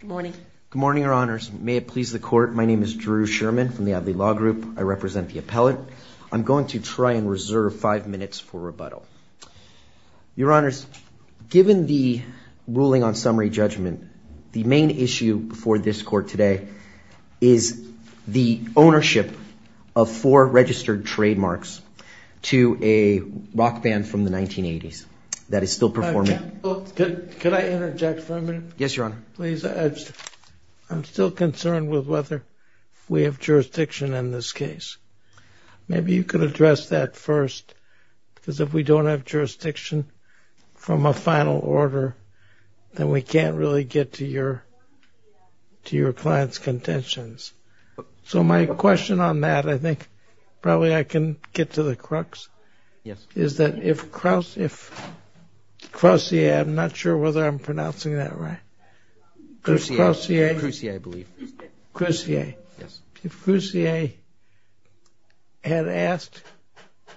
Good morning, Your Honors. May it please the Court, my name is Drew Sherman from the Adlai Law Group. I represent the appellate. I'm going to try and reserve five minutes for rebuttal. Your Honors, given the ruling on summary judgment, the main issue before this Court today is the ownership of four registered trademarks to a rock band from the 1980s that is still performing. Can I interject for a minute? Yes, Your Honor. Please. I'm still concerned with whether we have jurisdiction in this case. Maybe you could address that first, because if we don't have jurisdiction from a final order, then we can't really get to your client's contentions. So my question on that, I think probably I can get to the crux, is that if Croucier had asked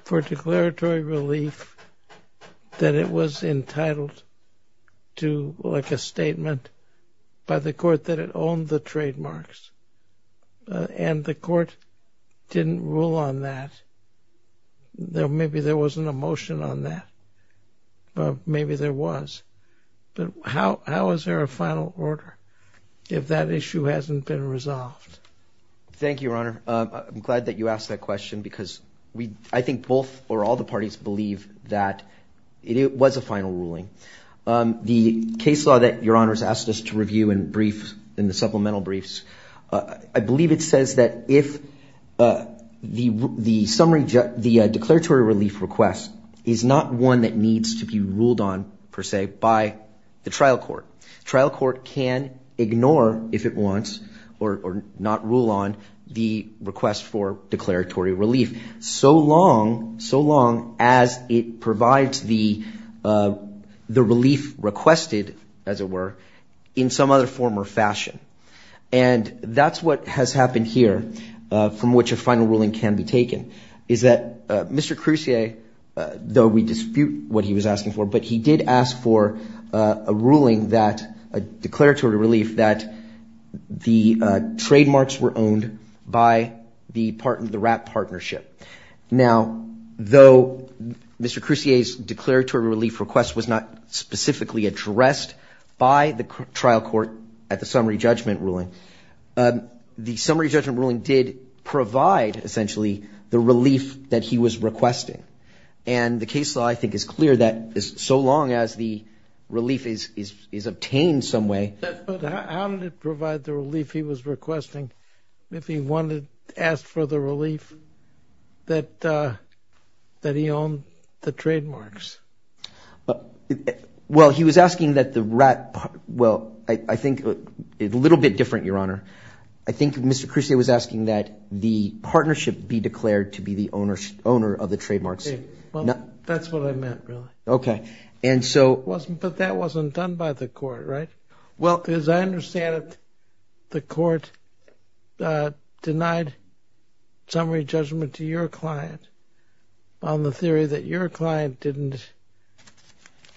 for declaratory relief that it was entitled to, like a statement by the Court that it owned the trademarks, and the Court didn't rule on that, maybe there wasn't a motion on that. Maybe there was. But how is there a final order if that issue hasn't been resolved? Thank you, Your Honor. I'm glad that you asked that question, because I think both or all the parties believe that it was a final ruling. The case law that Your Honors asked us to The declaratory relief request is not one that needs to be ruled on, per se, by the trial court. Trial court can ignore, if it wants, or not rule on the request for declaratory relief, so long as it provides the relief requested, as it were, in some other form or fashion. And that's what has happened here, from which a final ruling can be taken, is that Mr. Croucier, though we dispute what he was asking for, but he did ask for a ruling that, a declaratory relief, that the trademarks were owned by the RAP partnership. Now, though Mr. Croucier's declaratory relief request was not specifically addressed by the trial court at the summary judgment ruling, the summary judgment ruling did provide, essentially, the relief that he was requesting. And the case law, I think, is clear that, so long as the relief is obtained some way But how did it provide the relief he was requesting, if he wanted to ask for the relief that he owned the trademarks? Well, he was asking that the RAP, well, I think, a little bit different, Your Honor. I think Mr. Croucier was asking that the partnership be declared to be the owner of the trademarks. Well, that's what I meant, really. And so But that wasn't done by the court, right? Well, as I understand it, the court denied summary judgment to your client on the theory that your client didn't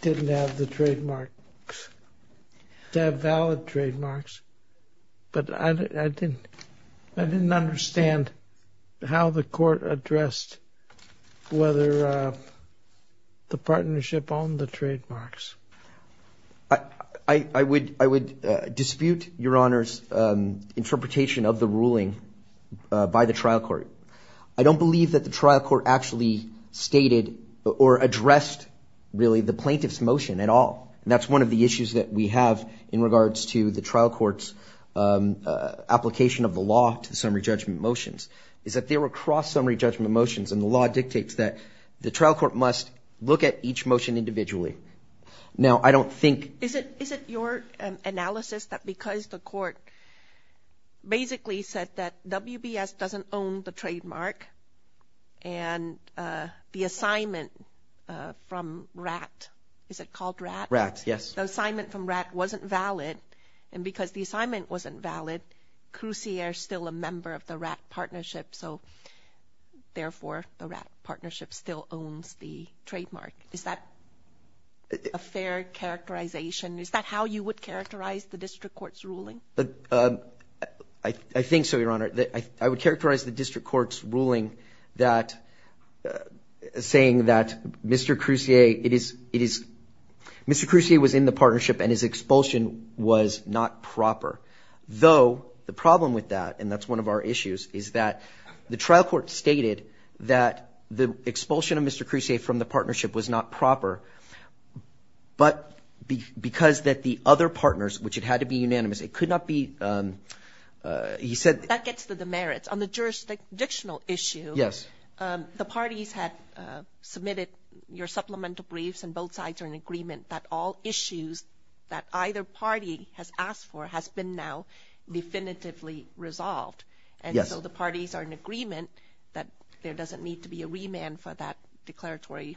have the trademarks, didn't have valid trademarks. But I didn't understand how the court addressed whether I would dispute Your Honor's interpretation of the ruling by the trial court. I don't believe that the trial court actually stated or addressed, really, the plaintiff's motion at all. That's one of the issues that we have in regards to the trial court's application of the law to the summary judgment motions, is that they were cross-summary judgment motions and the law dictates that the trial court must look at each motion individually. Now, I don't think Is it your analysis that because the court basically said that WBS doesn't own the trademark and the assignment from RAP, is it called RAP? RAP, yes. The assignment from RAP wasn't valid and because the assignment wasn't valid, Croucier is still a member of the RAP partnership, so therefore, the RAP partnership still owns the trademark. Is that a fair characterization? Is that how you would characterize the district court's ruling? I think so, Your Honor. I would characterize the district court's ruling saying that Mr. Croucier, it is, Mr. Croucier was in the partnership and his expulsion was not proper. Though, the problem with that, and that's one of our issues, is that the trial court stated that the expulsion of Mr. Croucier from the partnership was not proper, but because that the other partners, which it had to be unanimous, it could not be, he said That gets to the merits. On the jurisdictional issue, the parties had submitted your supplemental briefs and both sides are in agreement that all issues that either party has asked for has been now definitively resolved. And so, the parties are in agreement that there doesn't need to be a remand for that declaratory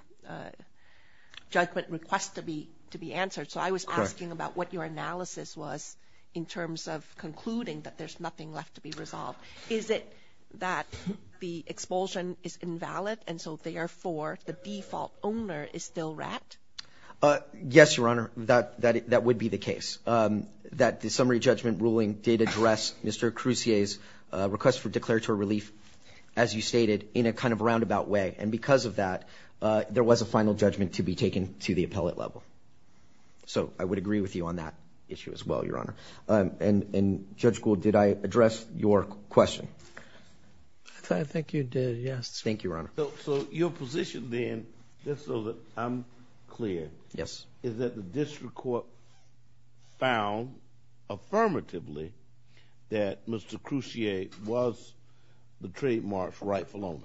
judgment request to be answered. So, I was asking about what your analysis was in terms of concluding that there's nothing left to be resolved. Is it that the expulsion is invalid and so, therefore, the default owner is still RAP? Yes, Your Honor, that would be the case. That the summary judgment ruling did address Mr. Croucier's request for declaratory relief, as you stated, in a kind of roundabout way. And because of that, there was a final judgment to be taken to the appellate level. So, I would agree with you on that issue as well, Your Honor. And Judge Gould, did I address your question? I think you did, yes. Thank you, Your Honor. So, your position then, just so that I'm clear, is that the district court found affirmatively that Mr. Croucier was the trademark rightful owner?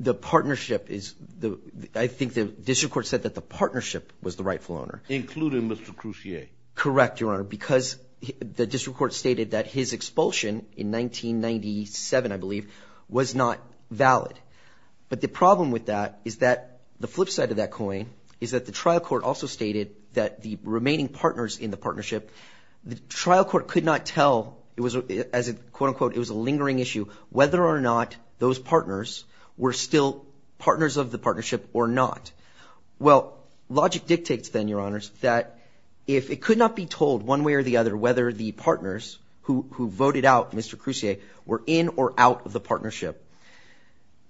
The partnership is, I think the district court said that the partnership was the rightful owner. Including Mr. Croucier? Correct, Your Honor, because the district court stated that his expulsion in 1997, I believe, was not valid. But the problem with that is that the flip side of that coin is that the trial court also stated that the remaining partners in the partnership, the trial court could not tell, it was, as a quote-unquote, it was a lingering issue, whether or not those partners were still partners of the partnership or not. Well, logic dictates then, Your Honors, that if it could not be told one way or the other whether the partners who voted out Mr. Croucier were in or out of the partnership,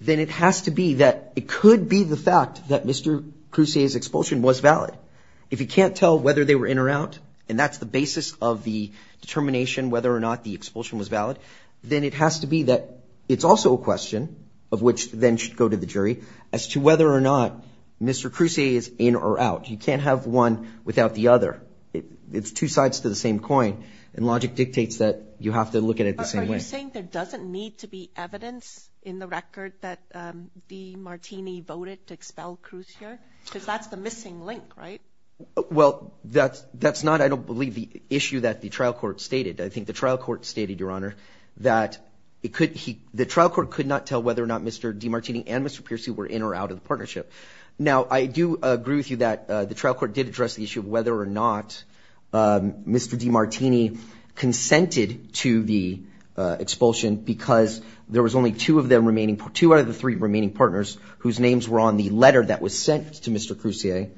then it has to be that it could be the fact that Mr. Croucier's expulsion was valid. If you can't tell whether they were in or out, and that's the basis of the determination whether or not the expulsion was valid, then it has to be that it's also a question, of which then should go to the jury, as to whether or not Mr. Croucier is in or out. You can't have one without the other. It's two sides to the same coin, and logic dictates that you have to look at it the same way. You're saying there doesn't need to be evidence in the record that DeMartini voted to expel Croucier? Because that's the missing link, right? Well, that's not, I don't believe, the issue that the trial court stated. I think the trial court stated, Your Honor, that the trial court could not tell whether or not Mr. DeMartini and Mr. Piercy were in or out of the partnership. Now, I do agree with you that the trial court did address the issue of whether or not Mr. DeMartini consented to the expulsion, because there was only two of them remaining, two out of the three remaining partners, whose names were on the letter that was sent to Mr. Croucier,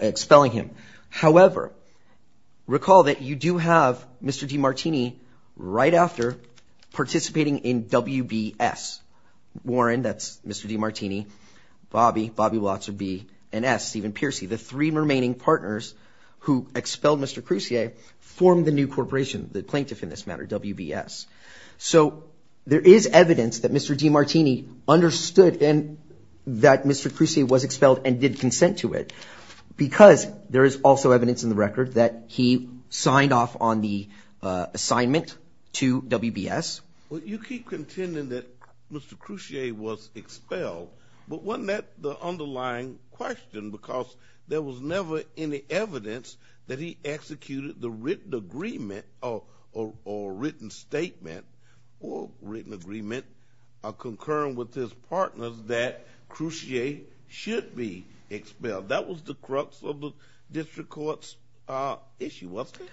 expelling him. However, recall that you do have Mr. DeMartini right after participating in WBS. Warren, that's Mr. DeMartini, Bobby, Bobby Watts would be an S, even Piercy. The three remaining partners who expelled Mr. Croucier formed the new corporation, the plaintiff in this matter, WBS. So there is evidence that Mr. DeMartini understood that Mr. Croucier was expelled and did consent to it, because there is also evidence in the record that he signed off on the assignment to WBS. Well, you keep contending that Mr. Croucier was expelled, but wasn't that the underlying question? Because there was never any evidence that he executed the written agreement or written statement or written agreement concurring with his partners that Croucier should be expelled. That was the crux of the district court's issue, wasn't it?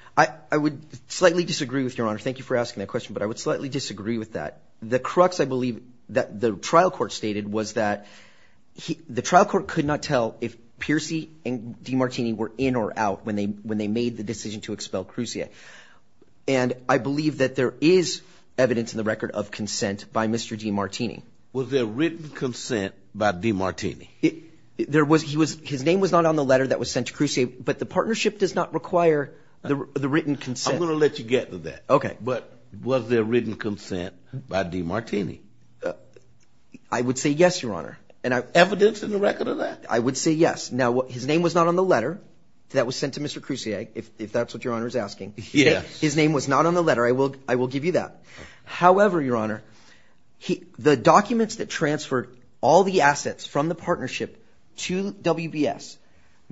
I would slightly disagree with your honor. Thank you for asking that question, but I would slightly disagree with that. The crux, I believe, that the trial court stated was that the trial court could not tell if Piercy and DeMartini were in or out when they made the decision to expel Croucier. And I believe that there is evidence in the record of consent by Mr. DeMartini. Was there written consent by DeMartini? His name was not on the letter that was sent to Croucier, but the partnership does not require the written consent. I'm going to let you get to that. Okay. But was there written consent by DeMartini? I would say yes, your honor. Evidence in the record of that? I would say yes. Now, his name was not on the letter that was sent to Mr. Croucier, if that's what your honor is asking. Yes. His name was not on the letter. I will give you that. However, your honor, the documents that transferred all the assets from the partnership to WBS,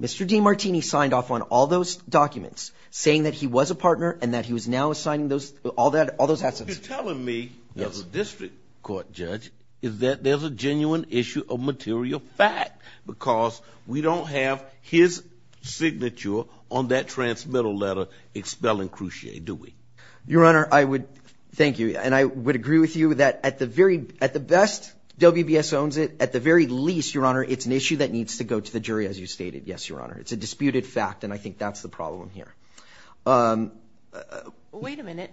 Mr. DeMartini signed off on all those documents saying that he was a partner and that he was now assigning all those assets. You're telling me, as a district court judge, is that there's a genuine issue of material fact because we don't have his signature on that transmittal letter expelling Croucier, do we? Your honor, I would thank you and I would agree with you that at the best, WBS owns it. At the very least, your honor, it's an issue that needs to go to the jury, as you stated. Yes, your honor. It's a disputed fact and I think that's the problem here. Wait a minute.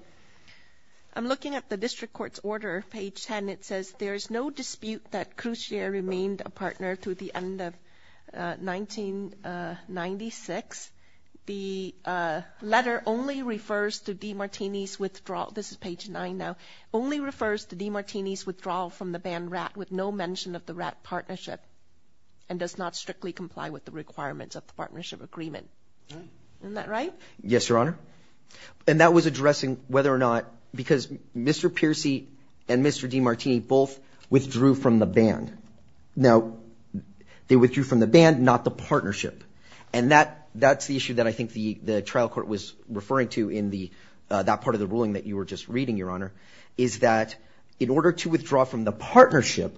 I'm looking at the district court's order, page 10. It says, there is no dispute that Croucier remained a partner through the end of 1996. The letter only refers to DeMartini's withdrawal, this is page 9 now, only refers to DeMartini's withdrawal from the band RAT with no mention of the RAT partnership and does not strictly comply with the requirements of the partnership agreement. Isn't that right? Yes, your honor. And that was addressing whether or not, because Mr. Piercy and Mr. DeMartini both withdrew from the band. Now, they withdrew from the band, not the partnership. And that's the issue that I think the trial court was referring to in that part of the ruling that you were just reading, your honor, is that in order to withdraw from the partnership,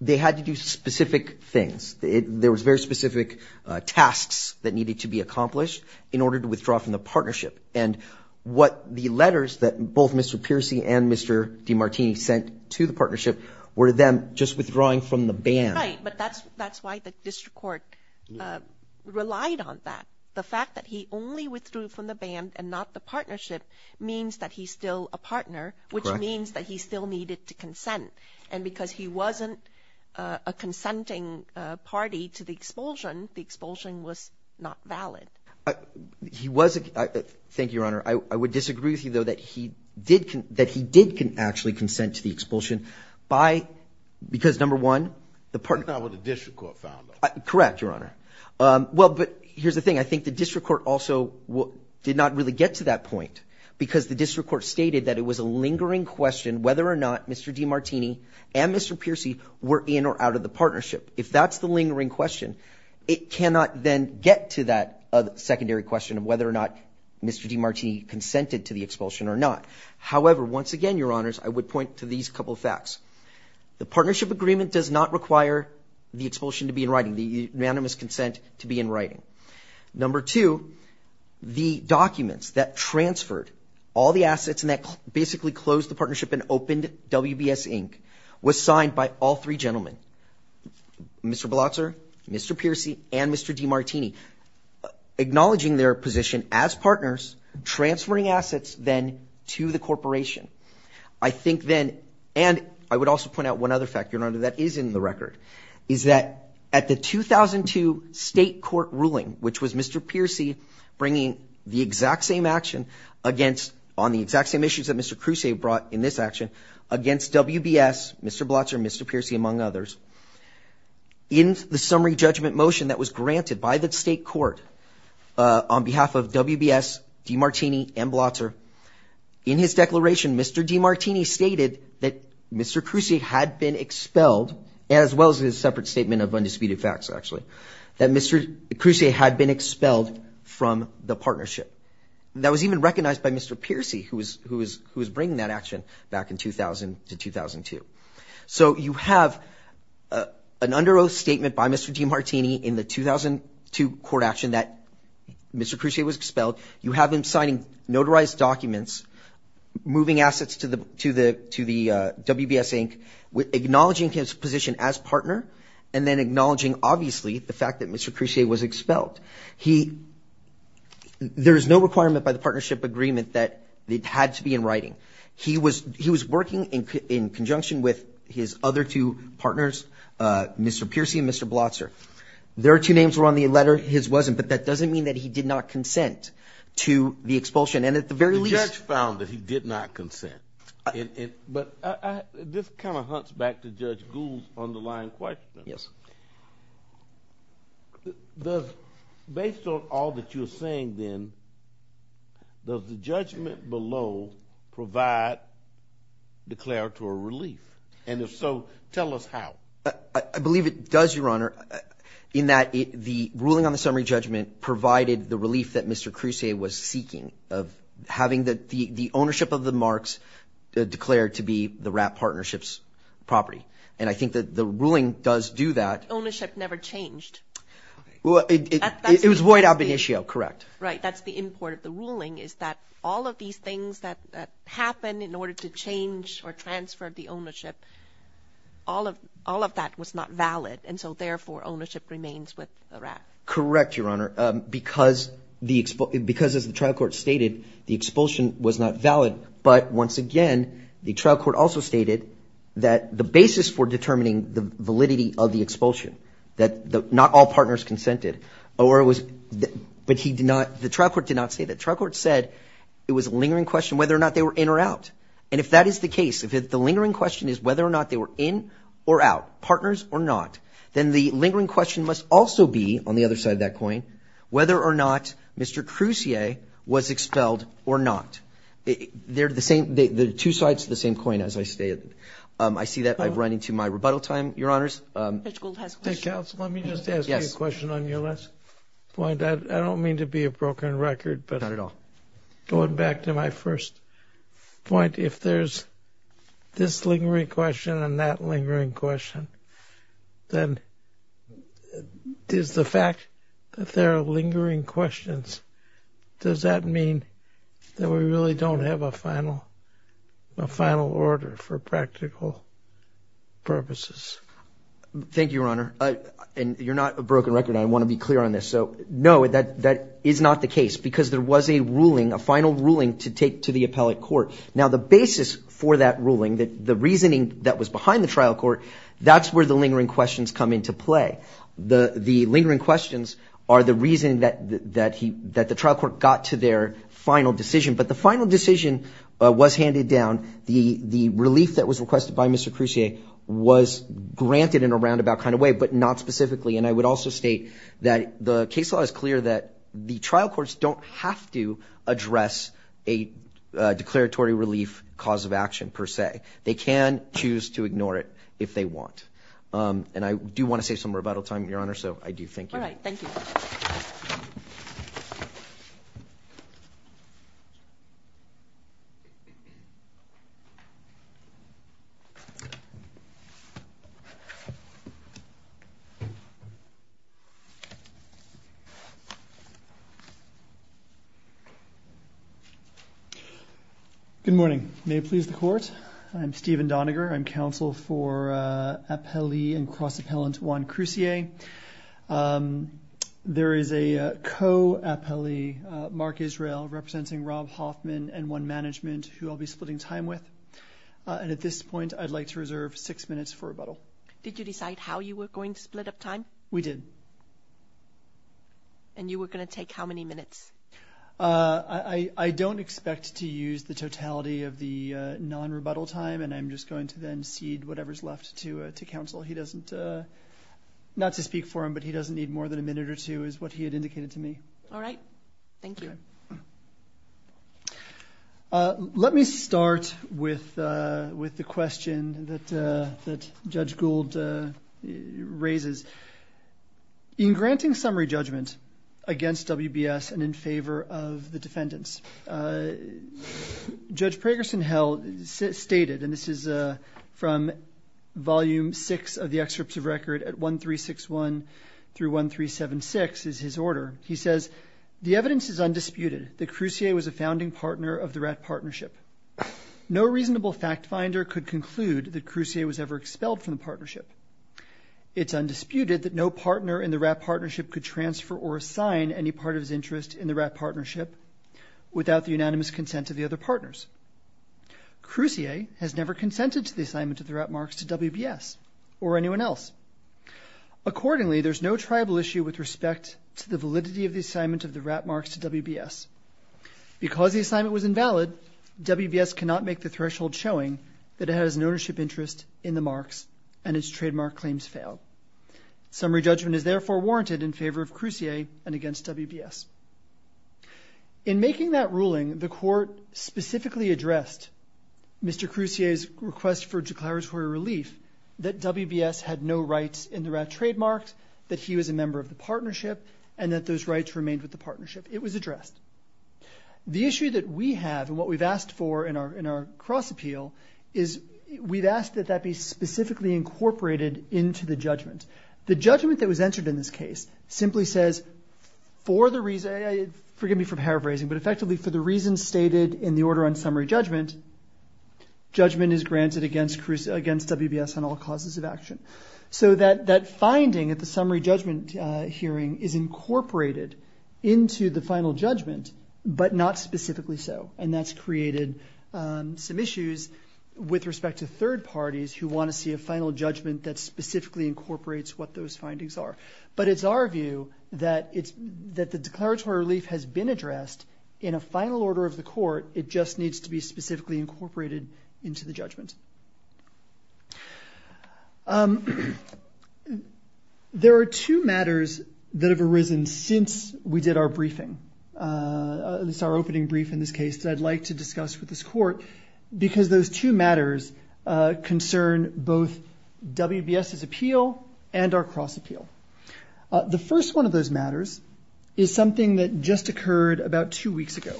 they had to do specific things. There was very specific tasks that needed to be accomplished in order to withdraw from the partnership. And what the letters that both Mr. Piercy and Mr. DeMartini sent to the partnership were them just withdrawing from the band. Right, but that's why the district court relied on that. The fact that he only withdrew from the band and not the partnership means that he's still a partner, which means that he still needed to consent. And because he wasn't a party to the expulsion, the expulsion was not valid. Thank you, your honor. I would disagree with you though, that he did can actually consent to the expulsion by, because number one, the partner... He's not what the district court found out. Correct, your honor. Well, but here's the thing. I think the district court also did not really get to that point because the district court stated that it was a lingering question whether or not Mr. DeMartini and Mr. Piercy were in or out of the partnership. If that's the lingering question, it cannot then get to that secondary question of whether or not Mr. DeMartini consented to the expulsion or not. However, once again, your honors, I would point to these couple of facts. The partnership agreement does not require the expulsion to be in writing, the unanimous consent to be in writing. Number two, the documents that transferred all the assets and that basically closed the partnership and opened WBS Inc. was signed by all three gentlemen, Mr. Blotzer, Mr. Piercy, and Mr. DeMartini, acknowledging their position as partners, transferring assets then to the corporation. I think then, and I would also point out one other factor, your honor, that is in the record, is that at the 2002 state court ruling, which was Mr. Piercy bringing the exact same action against, on the exact same issues that Mr. Crusay brought in this action, against WBS, Mr. Blotzer, Mr. Piercy, among others, in the summary judgment motion that was granted by the state court on behalf of WBS, DeMartini, and Blotzer, in his declaration, Mr. DeMartini stated that Mr. Crusay had been expelled, as well as his separate statement of undisputed facts, actually, that Mr. Crusay had been expelled from the partnership. That was even recognized by Mr. Piercy, who was bringing that action back in 2000 to 2002. So you have an under oath statement by Mr. DeMartini in the 2002 court action that Mr. Crusay was expelled. You have him signing notarized documents, moving assets to the WBS Inc., acknowledging his position as partner, and then acknowledging, obviously, the fact that Mr. Crusay was expelled. There is no requirement by the partnership agreement that it had to be in writing. He was working in conjunction with his other two partners, Mr. Piercy and Mr. Blotzer. Their two names were on the letter, his wasn't. But that doesn't mean that he did not consent to the expulsion. And at the very least- The judge found that he did not consent. But this kind of hunts back to Judge Gould's underlying question. Based on all that you're saying, then, does the judgment below provide declaratory relief? And if so, tell us how. I believe it does, Your Honor, in that the ruling on the summary judgment provided the relief that Mr. Crusay was seeking of having the ownership of the marks declared to be the WRAP partnership's property. And I think that the ruling does do that. Ownership never changed. Well, it was void ab initio, correct. Right. That's the import of the ruling, is that all of these things that happened in order to change or transfer the ownership, all of that was not valid. And so, therefore, ownership remains with the WRAP. Correct, Your Honor. Because, as the trial court stated, the expulsion was not valid. But, once again, the trial court also stated that the basis for determining the validity of the expulsion, that not all partners consented. But the trial court did not say that. The trial court said it was a lingering question whether or not they were in or out. And if that is the case, if the lingering question is whether or not they were in or out, partners or not, then the lingering question must also be, on the other side of that coin, whether or not Mr. Crusier was expelled or not. They're the same. They're the two sides of the same coin, as I stated. I see that I've run into my rebuttal time, Your Honors. Judge Gould has a question. Judge Gould, let me just ask you a question on your last point. I don't mean to be a broken record, but going back to my first point, if there's this lingering question and that lingering question, then does the fact that there are lingering questions, does that mean that we really don't have a final order for practical purposes? Thank you, Your Honor. And you're not a broken record. I want to be clear on this. So, no, that is not the case because there was a ruling, a final ruling, to take to the appellate court. That's where the lingering questions come into play. The lingering questions are the reason that the trial court got to their final decision. But the final decision was handed down. The relief that was requested by Mr. Crusier was granted in a roundabout kind of way, but not specifically. And I would also state that the case law is clear that the trial courts don't have to address a declaratory relief cause of action, per se. They can choose to ignore it if they want. And I do want to save some rebuttal time, Your Honor, so I do thank you. All right. Thank you. Good morning. May it please the Court? I'm Stephen Doniger. I'm counsel for appellee and cross-appellant Juan Crusier. There is a co-appellee, Mark Israel, representing Rob Hoffman and one management who I'll be splitting time with. And at this point, I'd like to reserve six minutes for rebuttal. Did you decide how you were going to split up time? We did. And you were going to take how many minutes? I don't expect to use the totality of the non-rebuttal time, and I'm just going to then cede whatever's left to counsel. He doesn't, not to speak for him, but he doesn't need more than a minute or two, is what he had indicated to me. All right. Thank you. Let me start with the question that Judge Gould raises. In granting summary judgment against WBS and in favor of the defendants, Judge Pragerson-Hell stated, and this is from volume six of the excerpts of record at 1361 through 1376 is his order. He says, the evidence is undisputed that Crusier was a founding partner of the RAT partnership. No reasonable fact finder could conclude that Crusier was ever expelled from the partnership. It's undisputed that no partner in the RAT partnership could transfer or assign any part of his interest in the RAT partnership without the unanimous consent of the other partners. Crusier has never consented to the assignment of the RAT marks to WBS or anyone else. Accordingly, there's no tribal issue with respect to the validity of the assignment of the RAT marks to WBS. Because the assignment was invalid, WBS cannot make the threshold showing that it has an ownership interest in the marks and its trademark claims fail. Summary judgment is therefore warranted in favor of Crusier and against WBS. In making that ruling, the court specifically addressed Mr. Crusier's request for declaratory relief that WBS had no rights in the RAT trademarks, that he was a member of the partnership, and that those rights remained with the partnership. It was addressed. The issue that we have and what we've asked for in our cross-appeal is we've asked that that be specifically incorporated into the judgment. The judgment that was entered in this case simply says, forgive me for paraphrasing, but effectively for the reasons stated in the order on summary judgment, judgment is granted against WBS on all causes of action. So that finding at the summary judgment hearing is incorporated into the final judgment, but not specifically so. And that's created some issues with respect to third parties who want to see a final judgment that specifically incorporates what those findings are. But it's our view that the declaratory relief has been addressed in a final order of the court. It just There are two matters that have arisen since we did our briefing. This is our opening brief in this case that I'd like to discuss with this court because those two matters concern both WBS's appeal and our cross-appeal. The first one of those matters is something that just occurred about two weeks ago.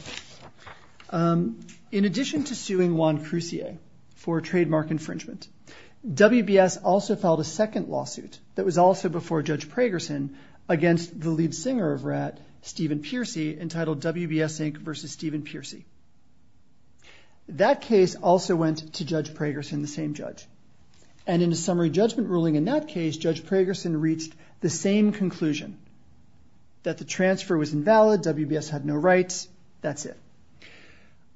In addition to suing Juan Crusier for trademark infringement, WBS also filed a second lawsuit that was also before Judge Pragerson against the lead singer of R.A.T., Stephen Piercy, entitled WBS Inc. v. Stephen Piercy. That case also went to Judge Pragerson, the same judge. And in a summary judgment ruling in that case, Judge Pragerson reached the same conclusion, that the transfer was invalid, WBS had no rights, that's it.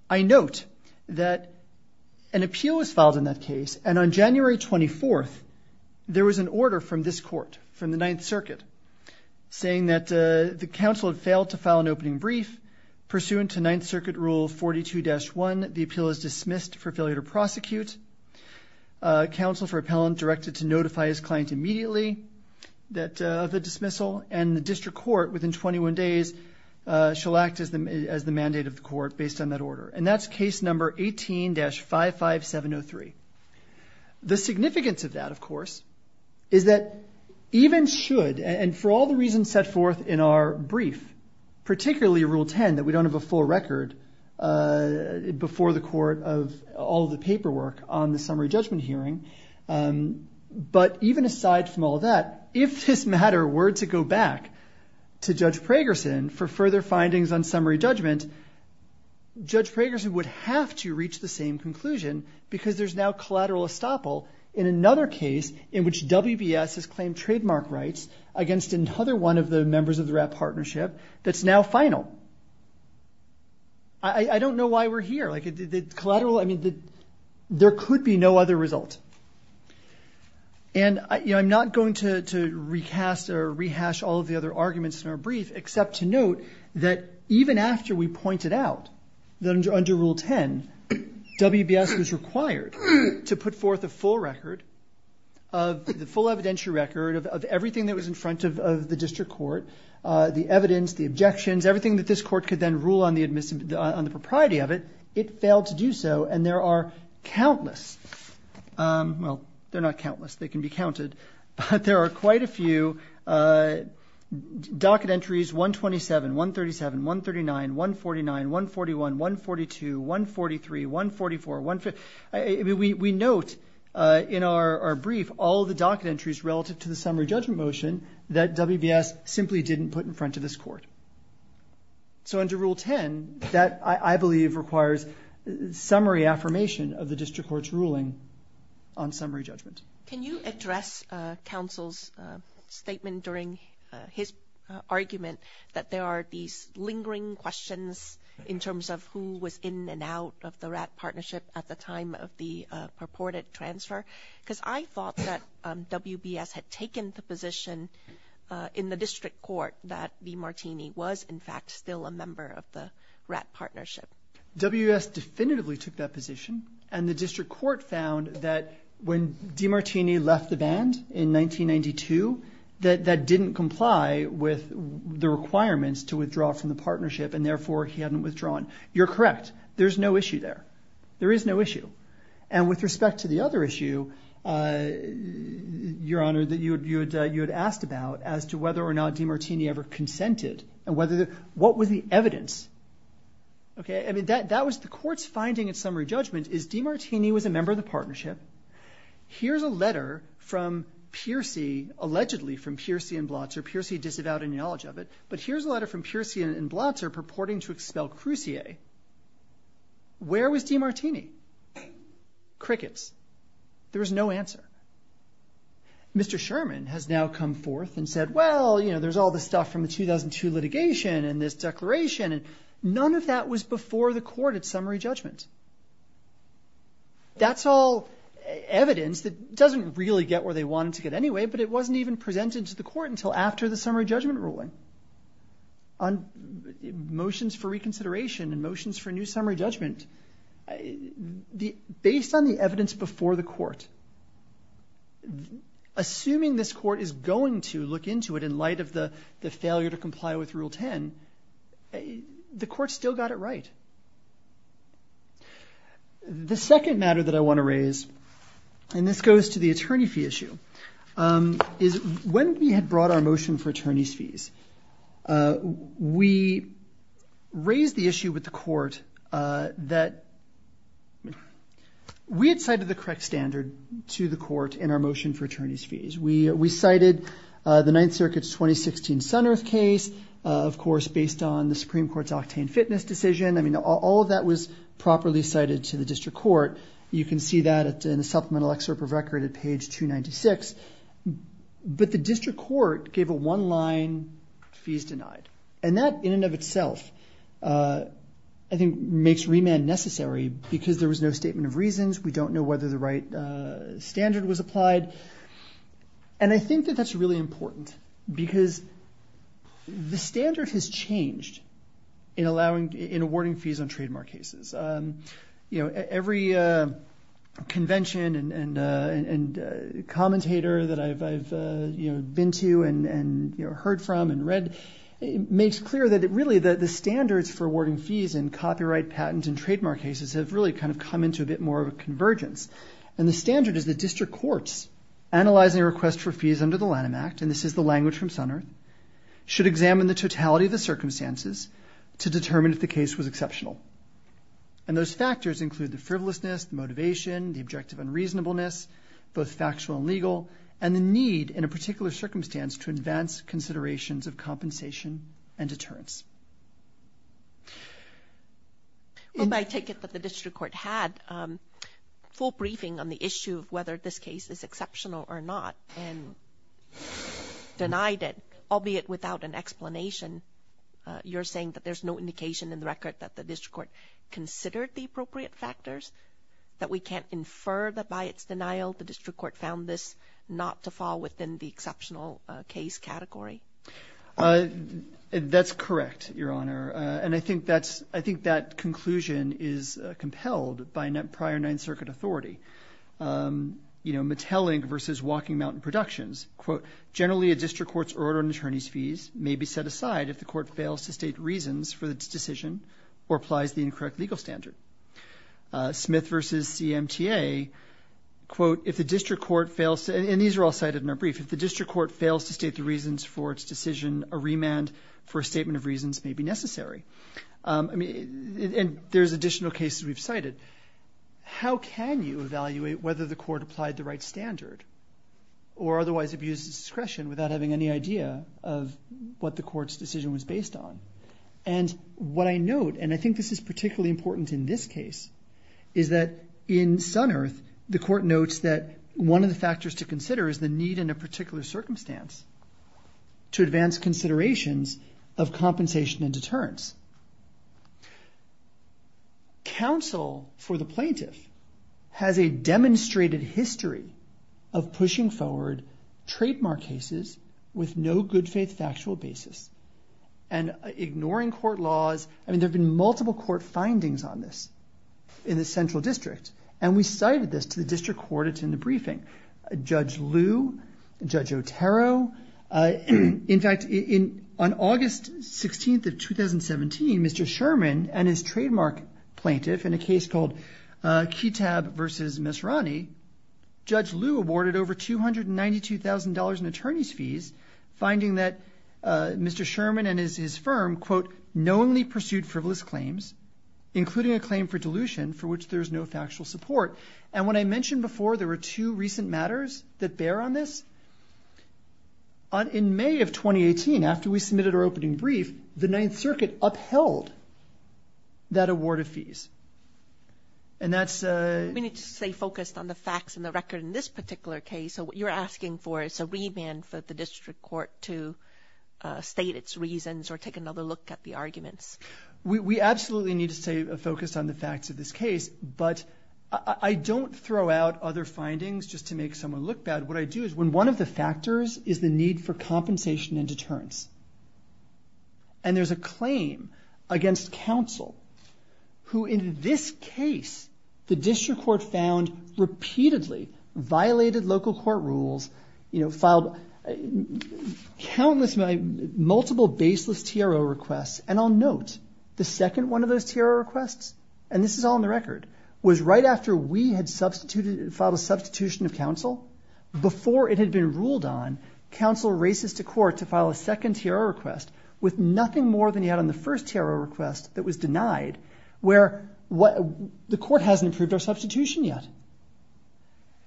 I note that an appeal was filed in that case. And on January 24th, there was an order from this court, from the Ninth Circuit, saying that the counsel had failed to file an opening brief. Pursuant to Ninth Circuit Rule 42-1, the appeal is dismissed for failure to prosecute. Counsel for appellant directed to notify his client immediately of the dismissal. And the district court, within 21 days, shall act as the mandate of the court based on that order. And that's case number 18-55703. The significance of that, of course, is that even should, and for all the reasons set forth in our brief, particularly Rule 10, that we don't have a full record before the court of all the paperwork on the summary judgment hearing, but even aside from all that, if this matter were to go back to Judge Pragerson for further findings on summary judgment, Judge Pragerson would have to reach the same conclusion because there's now collateral estoppel in another case in which WBS has claimed trademark rights against another one of the members of the WRAP partnership that's now final. I don't know why we're here. There could be no other result. And I'm not going to recast or rehash all of the other points that are pointed out that under Rule 10, WBS was required to put forth a full record, a full evidentiary record of everything that was in front of the district court, the evidence, the objections, everything that this court could then rule on the propriety of it, it failed to do so. And there are countless, well, they're not countless, they can be counted, but there are quite a few docket entries, 127, 137, 139, 149, 141, 142, 143, 144, we note in our brief all the docket entries relative to the summary judgment motion that WBS simply didn't put in front of this court. So under Rule 10, that I believe requires summary affirmation of the district court's ruling on summary judgment. Can you address counsel's statement during his argument that there are these lingering questions in terms of who was in and out of the WRAP partnership at the time of the purported transfer? Because I thought that WBS had taken the position in the district court that Lee Martini was in fact still a member of the WRAP partnership. WBS definitively took that position, and the district court found that when Demartini left the band in 1992, that that didn't comply with the requirements to withdraw from the partnership, and therefore he hadn't withdrawn. You're correct. There's no issue there. There is no issue. And with respect to the other issue, Your Honor, that you had asked about as to whether or not Demartini ever consented, and what was the evidence? The court's finding in summary judgment is Demartini was a member of the partnership. Here's a letter allegedly from Piercy and Blotzer. Piercy disavowed any knowledge of it. But here's a letter from Piercy and Blotzer purporting to expel Crucier. Where was Demartini? Crickets. There was no answer. Mr. Sherman has now come forth and said, well, you know, there's all this stuff from the 2002 litigation and this declaration, and none of that was before the court at summary judgment. That's all evidence that doesn't really get where they wanted to get anyway, but it wasn't even presented to the court until after the summary judgment ruling. Motions for reconsideration and motions for new summary judgment, based on the evidence before the court, assuming this court is going to look into it in light of the failure to comply with Rule 10, the court still got it right. The second matter that I want to raise, and this goes to the attorney fee issue, is when we had brought our motion for attorney's fees, we raised the issue with the court that we had cited the correct standard to the court in our motion for attorney's fees. We cited the Ninth Circuit's 2016 SunEarth case, of course, based on the Supreme Court's octane fitness decision. I mean, all of that was in a supplemental excerpt of record at page 296, but the district court gave a one-line fees denied, and that in and of itself, I think, makes remand necessary because there was no statement of reasons. We don't know whether the right standard was applied, and I think that that's really important because the standard has changed in awarding fees on convention and commentator that I've been to and heard from and read, makes clear that really the standards for awarding fees in copyright, patent, and trademark cases have really kind of come into a bit more of a convergence, and the standard is the district courts analyzing a request for fees under the Lanham Act, and this is the language from SunEarth, should examine the totality of the circumstances to determine if the case was exceptional, and those factors include the frivolousness, motivation, the objective unreasonableness, both factual and legal, and the need in a particular circumstance to advance considerations of compensation and deterrence. Well, I take it that the district court had a full briefing on the issue of whether this case is exceptional or not and denied it, albeit without an explanation. You're saying that there's no indication in the record that the district court considered the appropriate factors, that we can't infer that by its denial the district court found this not to fall within the exceptional case category? That's correct, Your Honor, and I think that's, I think that conclusion is compelled by prior Ninth Circuit authority. You know, Mattel Inc. versus Walking Mountain Productions, quote, generally a district court's order on attorney's fees may be set aside if the court fails to state reasons for its decision or applies the incorrect legal standard. Smith versus CMTA, quote, if the district court fails to, and these are all cited in our brief, if the district court fails to state the reasons for its decision, a remand for a statement of reasons may be necessary. And there's additional cases we've cited. How can you evaluate whether the court applied the right standard or otherwise abused its discretion without having any idea of what the court's based on? And what I note, and I think this is particularly important in this case, is that in Sunearth, the court notes that one of the factors to consider is the need in a particular circumstance to advance considerations of compensation and deterrence. Counsel for the plaintiff has a demonstrated history of pushing forward trademark cases with no good faith factual basis and ignoring court laws. I mean, there have been multiple court findings on this in the central district, and we cited this to the district court. It's in the briefing. Judge Liu, Judge Otero, in fact, on August 16th of 2017, Mr. Sherman and his trademark plaintiff in a case called Ketab versus Misrani, Judge Liu awarded over $292,000 in attorney's fees, finding that Mr. Sherman and his firm, quote, knowingly pursued frivolous claims, including a claim for dilution for which there's no factual support. And when I mentioned before, there were two recent matters that bear on this. In May of 2018, after we submitted our opening brief, the Ninth Circuit upheld that award of fees. And that's... We need to stay focused on the facts and the record in this particular case. So what you're asking for is a remand for the district court to state its reasons or take another look at the arguments. We absolutely need to stay focused on the facts of this case, but I don't throw out other findings just to make someone look bad. What I do is when one of the factors is the need for compensation and deterrence, and there's a claim against counsel who in this case, the district court found repeatedly violated local court rules, filed countless, multiple baseless TRO requests. And I'll note the second one of those TRO requests, and this is all in the record, was right after we had filed a substitution of counsel, before it had been ruled on, counsel races to court to file a second TRO request with nothing more than he had on the first TRO request that was denied, where the court hasn't approved our substitution yet.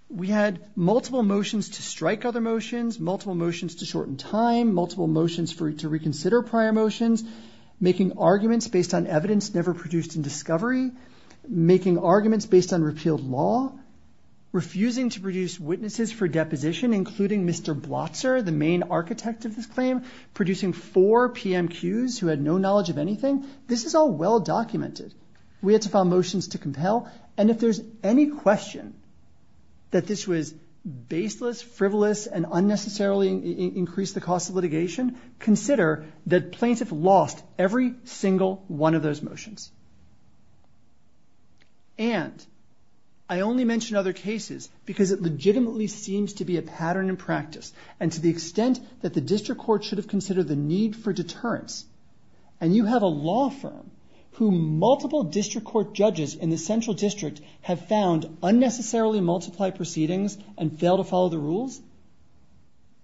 We had multiple motions to strike other motions, multiple motions to shorten time, multiple motions for you to reconsider prior motions, making arguments based on evidence never produced in discovery, making arguments based on repealed law, refusing to produce witnesses for deposition, including Mr. Blotzer, the main architect of this claim, producing four PMQs who had no knowledge of anything. This is all well-documented. We had to file motions to compel. And if there's any question that this was baseless, frivolous, and unnecessarily increased the cost of litigation, consider that plaintiff lost every single one of those motions. And I only mention other cases because it legitimately seems to be a pattern in practice. And to the extent that the district court should have considered the need for deterrence, and you have a law firm who multiple district court judges in the central district have found unnecessarily multiply proceedings and fail to follow the rules,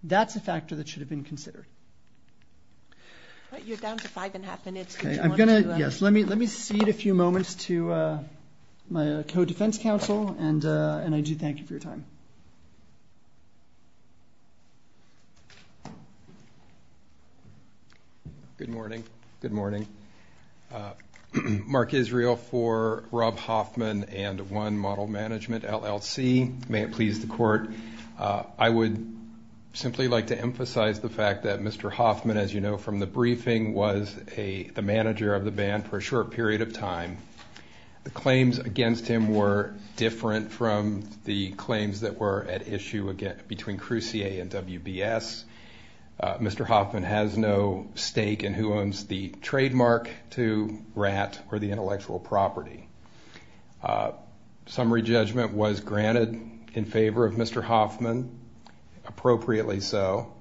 that's a factor that should have been considered. But you're down to five and a half minutes. Yes, let me let me cede a few moments to my co-defense counsel, and I do thank you for your Good morning. Good morning. Mark Israel for Rob Hoffman and One Model Management, LLC. May it please the court. I would simply like to emphasize the fact that Mr. Hoffman, as you know from the briefing, was the manager of the band for a short period of time. The claims against him were different from the claims that were at issue again between stake and who owns the trademark to Ratt or the intellectual property. Summary judgment was granted in favor of Mr. Hoffman, appropriately so.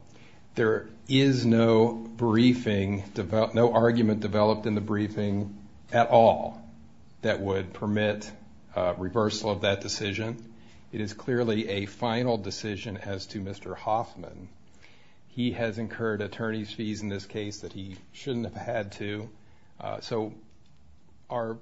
There is no briefing, no argument developed in the briefing at all that would permit reversal of that decision. It is clearly a final decision as to Mr. Hoffman. He has incurred attorney's fees in this case that he shouldn't have had to. Our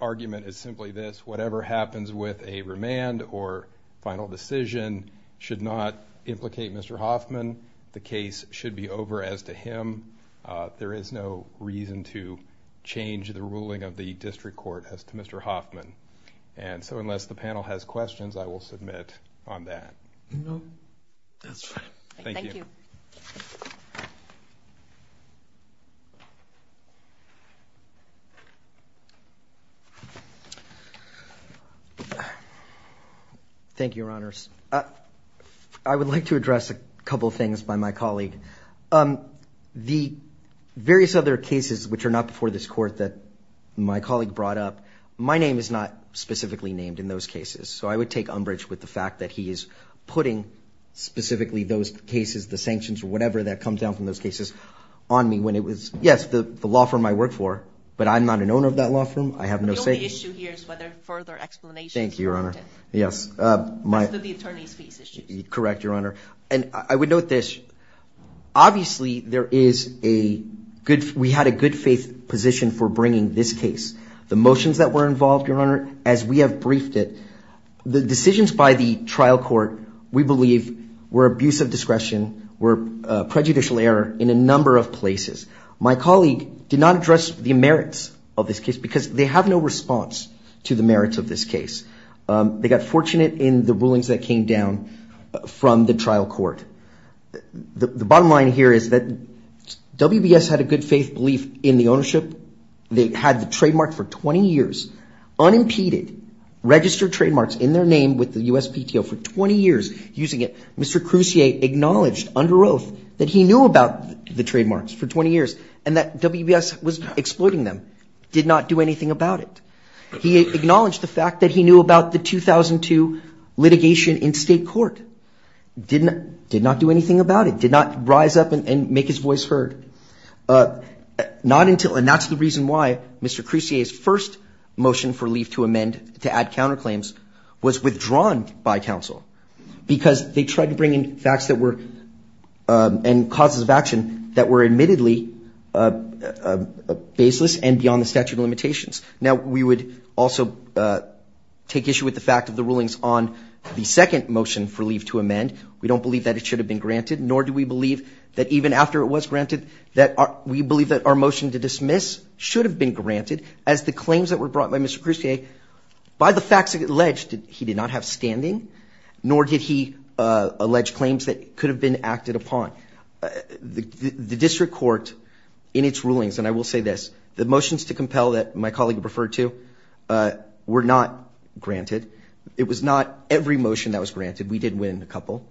argument is simply this, whatever happens with a remand or final decision should not implicate Mr. Hoffman. The case should be over as to him. There is no reason to change the ruling of the district court as to Mr. Hoffman. Unless the panel has questions, I will submit on that. No, that's fine. Thank you. Thank you, your honors. I would like to address a couple of things by my colleague. The various other cases which are not before this court that my colleague brought up, my name is not named in those cases. I would take umbrage with the fact that he is putting specifically those cases, the sanctions or whatever that comes down from those cases on me. Yes, the law firm I work for, but I'm not an owner of that law firm. I have no say. The only issue here is whether further explanations are needed. Thank you, your honor. Yes. As to the attorney's fees issue. Correct, your honor. I would note this. Obviously, we had a good faith position for bringing this case. The motions that were briefed, the decisions by the trial court, we believe were abuse of discretion, were prejudicial error in a number of places. My colleague did not address the merits of this case because they have no response to the merits of this case. They got fortunate in the rulings that came down from the trial court. The bottom line here is that WBS had a good faith belief in the ownership. They had the trademark for 20 years, unimpeded, registered trademarks in their name with the USPTO for 20 years using it. Mr. Crucier acknowledged under oath that he knew about the trademarks for 20 years and that WBS was exploiting them. Did not do anything about it. He acknowledged the fact that he knew about the 2002 litigation in state court. Did not do anything about it. Did not rise up and make his voice heard. And that's the reason why Mr. Crucier's first motion for leave to amend to add counterclaims was withdrawn by counsel because they tried to bring in facts that were, and causes of action that were admittedly baseless and beyond the statute of limitations. Now, we would also take issue with the fact of the rulings on the second motion for leave to amend. We don't believe that it should have been granted, nor do we believe that even after it was granted, that we believe that our motion to dismiss should have been granted as the claims that were brought by Mr. Crucier, by the facts alleged, he did not have standing, nor did he allege claims that could have been acted upon. The district court in its rulings, and I will say this, the motions to compel that my colleague referred to, were not granted. It was not every motion that was granted. We did win a couple.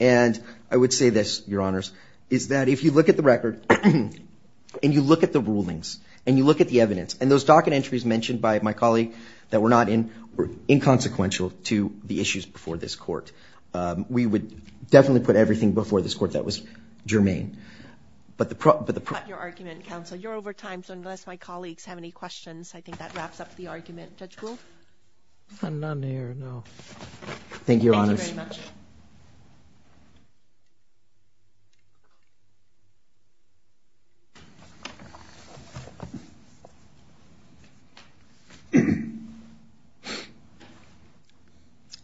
And I would say this, your honors, is that if you look at the record, and you look at the rulings, and you look at the evidence, and those docket entries mentioned by my colleague that were not in, were inconsequential to the issues before this court, we would definitely put everything before this court that was germane. But the problem, but the problem, you're over time, so unless my colleagues have any questions, I think that wraps up the argument. Judge Gould? None here, no. Thank you, your honors.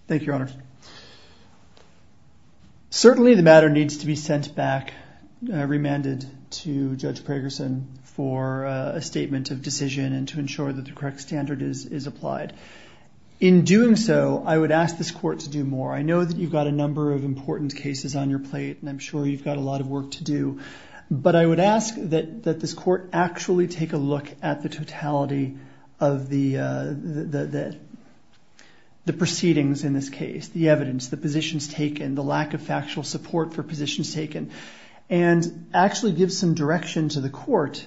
Thank you, your honors. Certainly the matter needs to be sent back, remanded to Judge Pragerson for a statement of decision and to ensure that the correct standard is applied. In doing so, I would ask this court to do more. I know that you've got a number of important cases on your plate, and I'm sure you've got a lot of work to do, but I would ask that this court actually take a look at the the proceedings in this case, the evidence, the positions taken, the lack of factual support for positions taken, and actually give some direction to the court,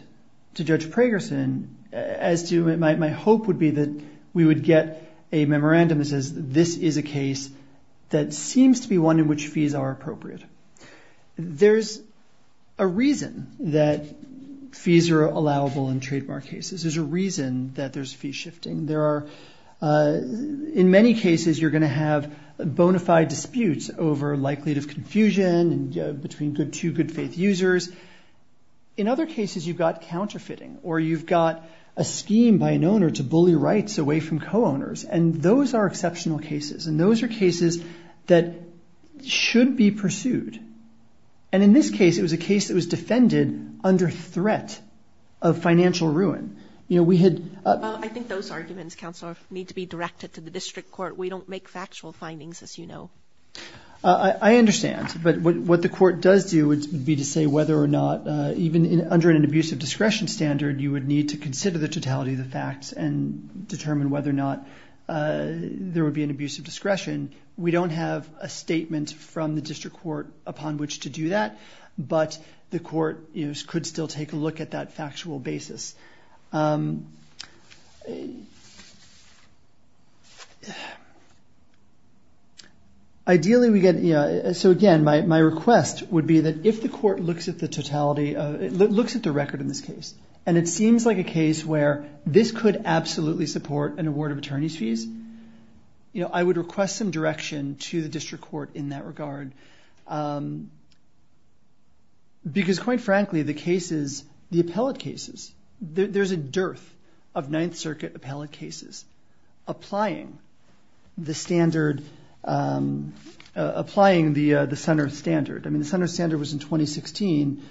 to Judge Pragerson, as to my hope would be that we would get a memorandum that says this is a case that seems to be one in which fees are appropriate. There's a reason that fees are allowable in trademark cases. There's a reason that there's fee shifting. In many cases, you're going to have bona fide disputes over likelihood of confusion between two good faith users. In other cases, you've got counterfeiting, or you've got a scheme by an owner to bully rights away from co-owners, and those are exceptional cases, and those are cases that should be pursued. And in this case, it was a case that was defended under threat of financial ruin. You know, we had... I think those arguments, Counselor, need to be directed to the district court. We don't make factual findings, as you know. I understand, but what the court does do would be to say whether or not, even under an abusive discretion standard, you would need to consider the totality of the facts and determine whether or not there would be an abusive discretion. We don't have a statement from the district court upon which to do that, but the court could still take a look at that factual basis. Ideally, we get... So again, my request would be that if the court looks at the totality, looks at the record in this case, and it seems like a case where this could absolutely support an award of attorney's fees, I would request some direction to the district court in that regard. Because quite frankly, the cases, the appellate cases, there's a dearth of Ninth Circuit appellate cases applying the standard, applying the Sun Earth standard. I mean, the Sun Earth standard was in 2016,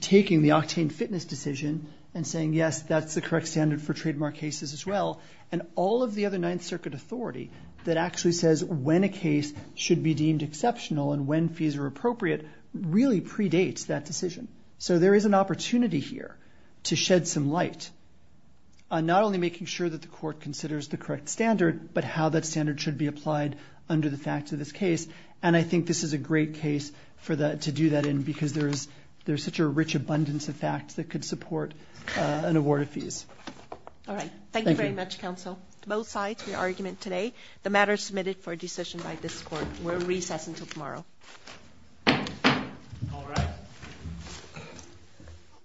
taking the octane fitness decision and saying, yes, that's the correct standard for trademark cases as well. And all of the other Ninth Circuit authority that actually says when a case should be deemed exceptional and when fees are appropriate really predates that decision. So there is an opportunity here to shed some light on not only making sure that the court considers the correct standard, but how that standard should be applied under the facts of this case. And I think this is a great case to do that in because there's such a rich abundance of facts that could support an award of fees. All right. Thank you very much, both sides for your argument today. The matter is submitted for a decision by this court. We'll recess until tomorrow.